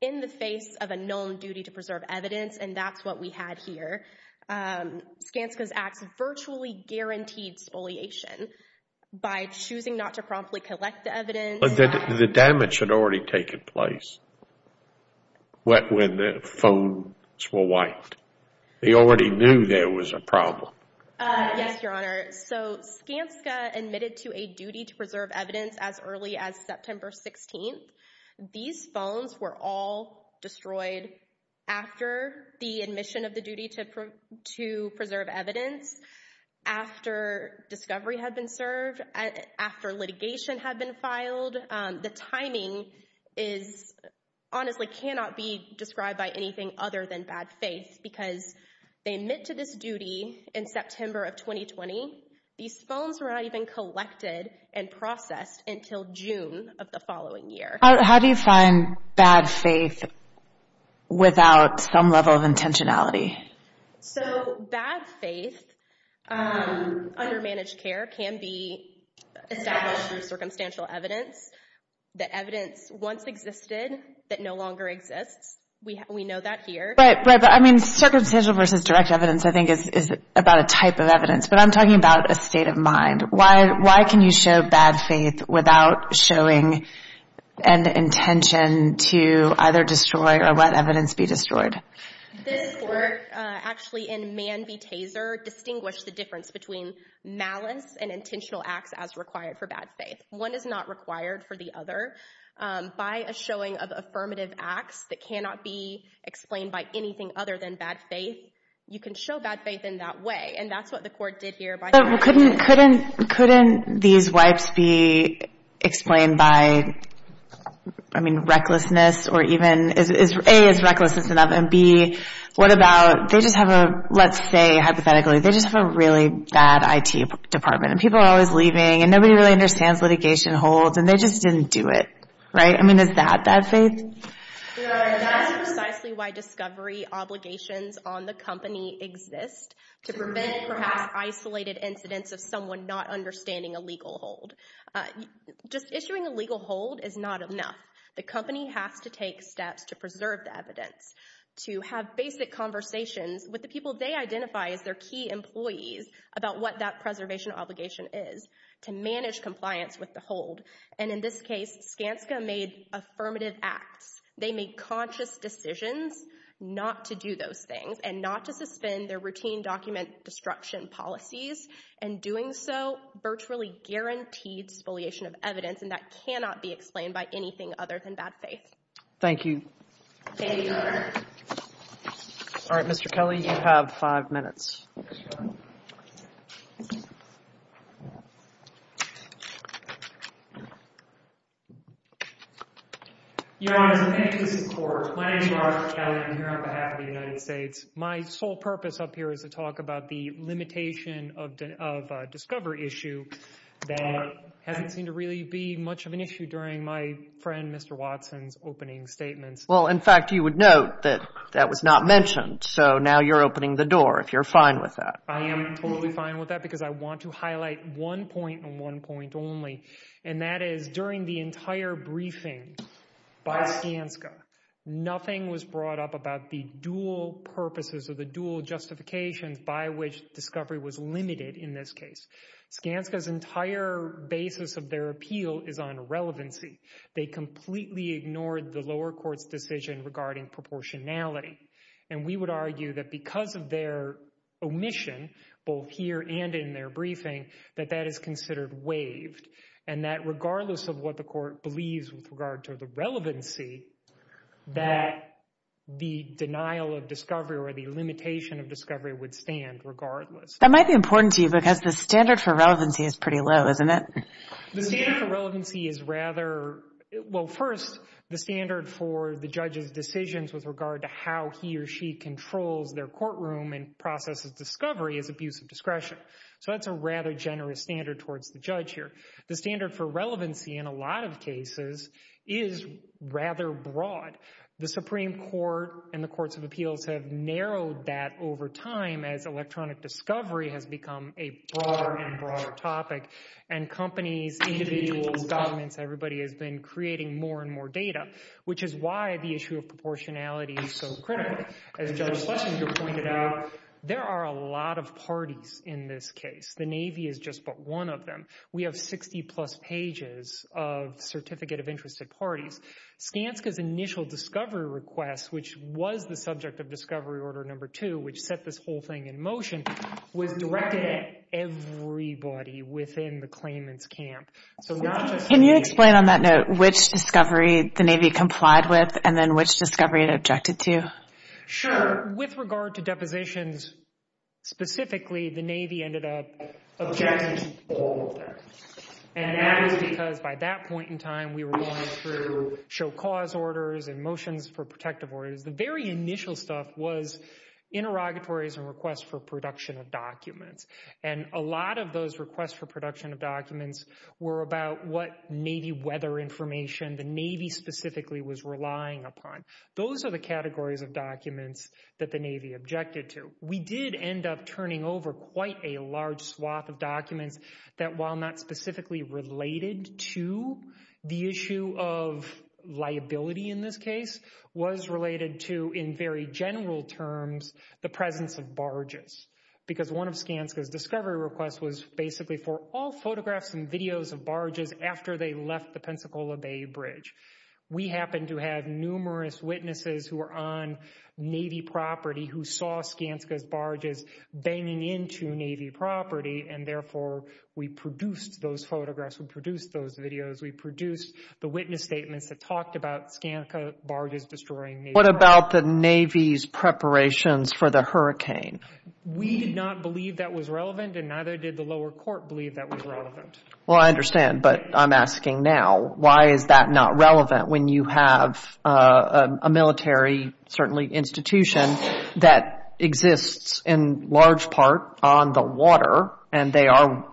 in the face of a known duty to preserve evidence, and that's what we had here. Skanska's acts virtually guaranteed spoliation by choosing not to promptly collect the evidence. But the damage had already taken place when the phones were wiped. They already knew there was a problem. Yes, Your Honor. So Skanska admitted to a duty to preserve evidence as early as September 16th. These phones were all destroyed after the admission of the duty to preserve evidence, after discovery had been served, after litigation had been filed. The timing is honestly cannot be described by anything other than bad faith because they admit to this duty in September of 2020. These phones were not even collected and processed until June of the following year. How do you find bad faith without some level of intentionality? So bad faith under managed care can be established through circumstantial evidence. The evidence once existed that no longer exists. We know that here. Right, but I mean circumstantial versus direct evidence I think is about a type of evidence, but I'm talking about a state of mind. Why can you show bad faith without showing an intention to either destroy or let evidence be destroyed? This court actually in Mann v. Taser distinguished the difference between malice and intentional acts as required for bad faith. One is not required for the other. By a showing of affirmative acts that cannot be explained by anything other than bad faith, you can show bad faith in that way, and that's what the court did here. Couldn't these wipes be explained by, I mean, recklessness or even, A, is recklessness enough, and B, what about, they just have a, let's say hypothetically, they just have a really bad IT department and people are always leaving and nobody really understands litigation holds and they just didn't do it, right? I mean, is that bad faith? That's precisely why discovery obligations on the company exist to prevent perhaps isolated incidents of someone not understanding a legal hold. Just issuing a legal hold is not enough. The company has to take steps to preserve the evidence, to have basic conversations with the people they identify as their key employees about what that preservation obligation is, to manage compliance with the hold, and in this case, Skanska made affirmative acts. They made conscious decisions not to do those things and not to suspend their routine document destruction policies, and doing so virtually guaranteed spoliation of evidence, and that cannot be explained by anything other than bad faith. Thank you. Thank you, Your Honor. All right, Mr. Kelly, you have five minutes. Yes, Your Honor. Your Honor, thank you for your support. My name is Robert Kelly. I am here on behalf of the United States. My sole purpose up here is to talk about the limitation of a discovery issue that hasn't seemed to really be much of an issue during my friend Mr. Watson's opening statements. Well, in fact, you would note that that was not mentioned, so now you're opening the door if you're fine with that. I am totally fine with that because I want to highlight one point and one point only, and that is during the entire briefing by Skanska, nothing was brought up about the dual purposes or the dual justifications by which discovery was limited in this case. Skanska's entire basis of their appeal is on relevancy. They completely ignored the lower court's decision regarding proportionality, and we would argue that because of their omission, both here and in their briefing, that that is considered waived, and that regardless of what the court believes with regard to the relevancy, that the denial of discovery or the limitation of discovery would stand regardless. That might be important to you because the standard for relevancy is pretty low, isn't it? The standard for relevancy is rather... Well, first, the standard for the judge's decisions with regard to how he or she controls their courtroom and processes discovery is abuse of discretion, so that's a rather generous standard towards the judge here. The standard for relevancy in a lot of cases is rather broad. The Supreme Court and the courts of appeals have narrowed that over time as electronic discovery has become a broader and broader topic, and companies, individuals, governments, everybody has been creating more and more data, which is why the issue of proportionality is so critical. As Judge Schlesinger pointed out, there are a lot of parties in this case. The Navy is just but one of them. We have 60-plus pages of Certificate of Interest at parties. Skanska's initial discovery request, which was the subject of Discovery Order No. 2, which set this whole thing in motion, was directed at everybody within the claimant's camp. So not just the Navy. Can you explain on that note which discovery the Navy complied with and then which discovery it objected to? Sure. With regard to depositions specifically, the Navy ended up objecting to all of them, and that was because by that point in time we were going through show cause orders and motions for protective orders. The very initial stuff was interrogatories and requests for production of documents, and a lot of those requests for production of documents were about what Navy weather information the Navy specifically was relying upon. Those are the categories of documents that the Navy objected to. We did end up turning over quite a large swath of documents that while not specifically related to the issue of liability in this case, was related to, in very general terms, the presence of barges. Because one of Skanska's discovery requests was basically for all photographs and videos of barges after they left the Pensacola Bay Bridge. We happened to have numerous witnesses who were on Navy property who saw Skanska's barges banging into Navy property, and therefore we produced those photographs, we produced those videos, we produced the witness statements that talked about Skanska barges destroying Navy property. What about the Navy's preparations for the hurricane? We did not believe that was relevant, and neither did the lower court believe that was relevant. Well, I understand, but I'm asking now, why is that not relevant when you have a military, certainly institution, that exists in large part on the water, and they are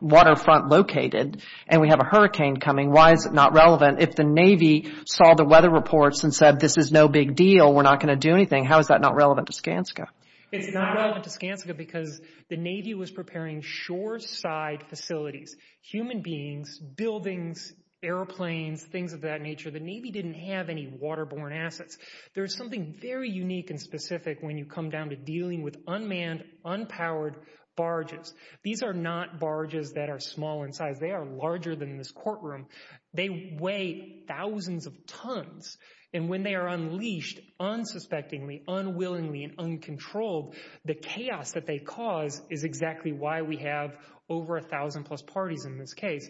waterfront located, and we have a hurricane coming. Why is it not relevant? If the Navy saw the weather reports and said, this is no big deal, we're not going to do anything, how is that not relevant to Skanska? It's not relevant to Skanska because the Navy was preparing shore-side facilities, human beings, buildings, airplanes, things of that nature. The Navy didn't have any waterborne assets. There's something very unique and specific when you come down to dealing with unmanned, unpowered barges. These are not barges that are small in size. They are larger than this courtroom. They weigh thousands of tons, and when they are unleashed, unsuspectingly, unwillingly, and uncontrolled, the chaos that they cause is exactly why we have over 1,000-plus parties in this case.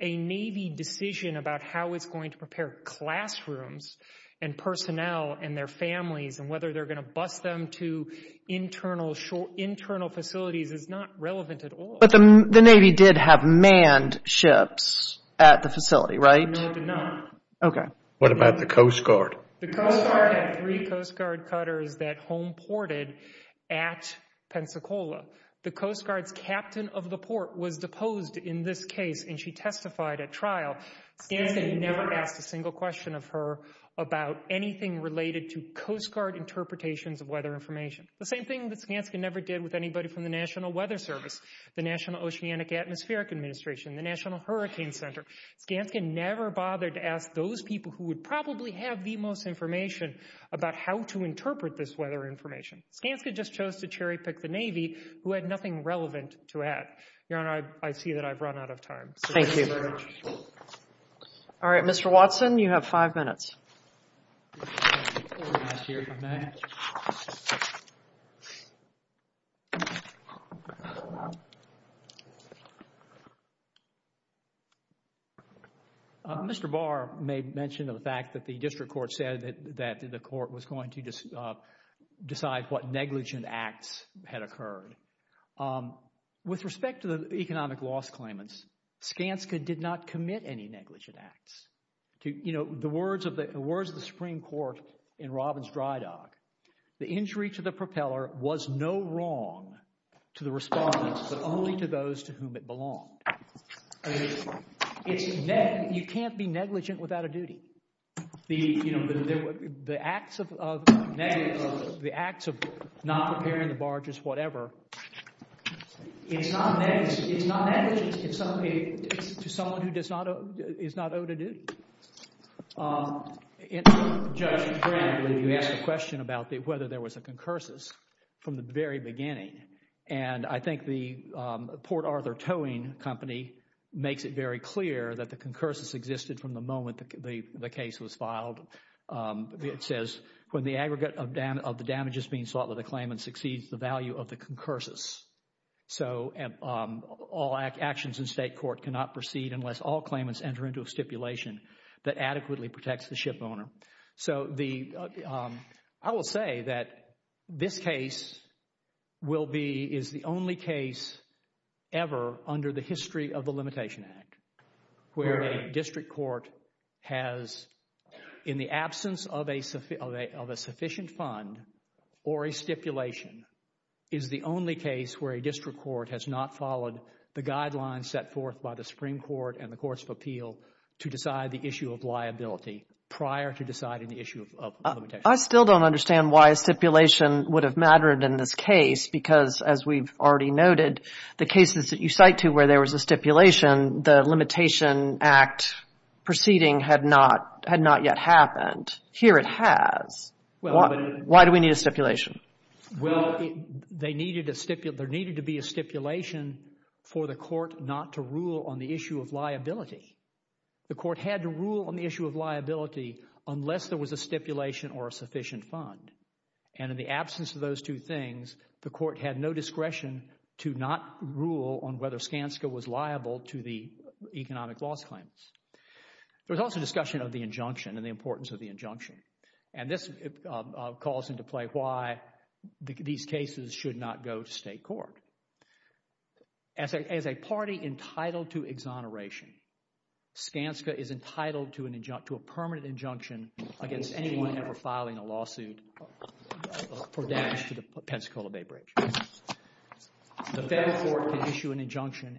A Navy decision about how it's going to prepare classrooms and personnel and their families and whether they're going to bus them to internal facilities is not relevant at all. But the Navy did have manned ships at the facility, right? No, it did not. Okay. What about the Coast Guard? The Coast Guard had three Coast Guard cutters that home ported at Pensacola. The Coast Guard's captain of the port was deposed in this case, and she testified at trial. Skanska never asked a single question of her about anything related to Coast Guard interpretations of weather information, the same thing that Skanska never did with anybody from the National Weather Service, the National Oceanic Atmospheric Administration, the National Hurricane Center. Skanska never bothered to ask those people who would probably have the most information about how to interpret this weather information. Skanska just chose to cherry-pick the Navy who had nothing relevant to add. Your Honor, I see that I've run out of time. Thank you very much. All right, Mr. Watson, you have five minutes. Thank you, Your Honor. Mr. Barr may mention the fact that the district court said that the court was going to decide what negligent acts had occurred. With respect to the economic loss claimants, Skanska did not commit any negligent acts. The words of the Supreme Court in Robbins' dry dock, the injury to the propeller was no wrong to the respondents, but only to those to whom it belonged. You can't be negligent without a duty. It's not negligent to someone who is not owed a duty. Judge Graham, you asked a question about whether there was a concursus from the very beginning, and I think the Port Arthur Towing Company makes it very clear that the concursus existed from the moment the case was filed. It says, when the aggregate of the damages being sought with a claimant exceeds the value of the concursus. All actions in state court cannot proceed unless all claimants enter into a stipulation that adequately protects the shipowner. I will say that this case is the only case ever under the history of the Limitation Act where a district court has, in the absence of a sufficient fund or a stipulation, is the only case where a district court has not followed the guidelines set forth by the Supreme Court and the Courts of Appeal to decide the issue of liability prior to deciding the issue of limitation. I still don't understand why a stipulation would have mattered in this case because, as we've already noted, the cases that you cite to where there was a stipulation, the Limitation Act proceeding had not yet happened. Here it has. Why do we need a stipulation? Well, there needed to be a stipulation for the court not to rule on the issue of liability. The court had to rule on the issue of liability unless there was a stipulation or a sufficient fund, and in the absence of those two things, the court had no discretion to not rule on whether Skanska was liable to the economic loss claims. There was also discussion of the injunction and the importance of the injunction. And this calls into play why these cases should not go to state court. As a party entitled to exoneration, Skanska is entitled to a permanent injunction against anyone ever filing a lawsuit for damage to the Pensacola Bay Bridge. The federal court can issue an injunction,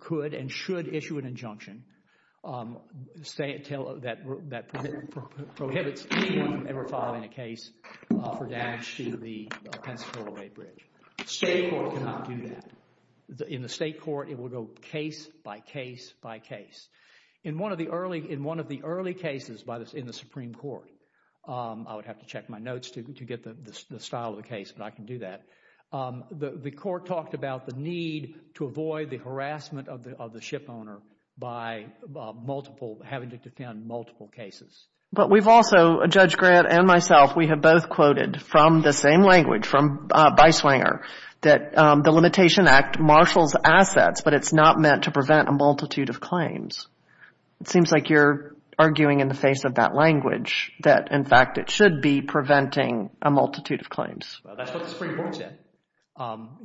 could and should issue an injunction that prohibits anyone ever filing a case for damage to the Pensacola Bay Bridge. State court cannot do that. In the state court, it will go case by case by case. In one of the early cases in the Supreme Court, I would have to check my notes to get the style of the case, but I can do that. The court talked about the need to avoid the harassment of the shipowner by having to defend multiple cases. But we've also, Judge Grant and myself, we have both quoted from the same language from Beiswanger that the Limitation Act marshals assets, but it's not meant to prevent a multitude of claims. It seems like you're arguing in the face of that language that, in fact, it should be preventing a multitude of claims. That's what the Supreme Court said. I'm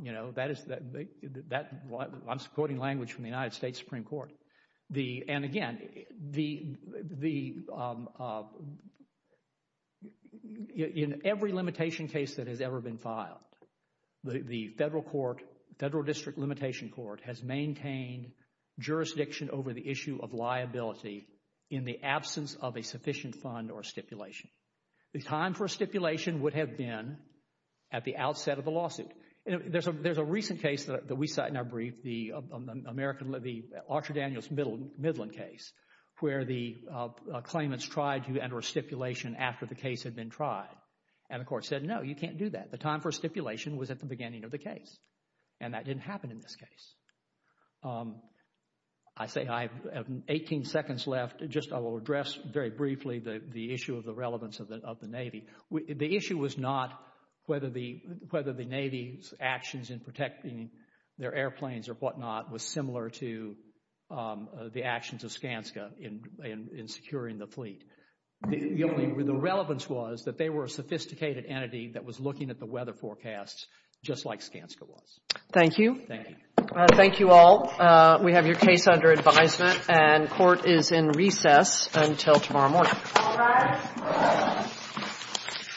quoting language from the United States Supreme Court. And again, in every limitation case that has ever been filed, the Federal District Limitation Court has maintained jurisdiction over the issue of liability in the absence of a sufficient fund or stipulation. The time for a stipulation would have been at the outset of the lawsuit. There's a recent case that we cite in our brief, the Archer Daniels Midland case, where the claimants tried to enter a stipulation after the case had been tried. And the court said, no, you can't do that. The time for stipulation was at the beginning of the case, and that didn't happen in this case. I say I have 18 seconds left. Just I will address very briefly the issue of the relevance of the Navy. The issue was not whether the Navy's actions in protecting their airplanes or whatnot was similar to the actions of Skanska in securing the fleet. The relevance was that they were a sophisticated entity that was looking at the weather forecasts just like Skanska was. Thank you. Thank you. Thank you all. We have your case under advisement, and court is in recess until tomorrow morning. All rise.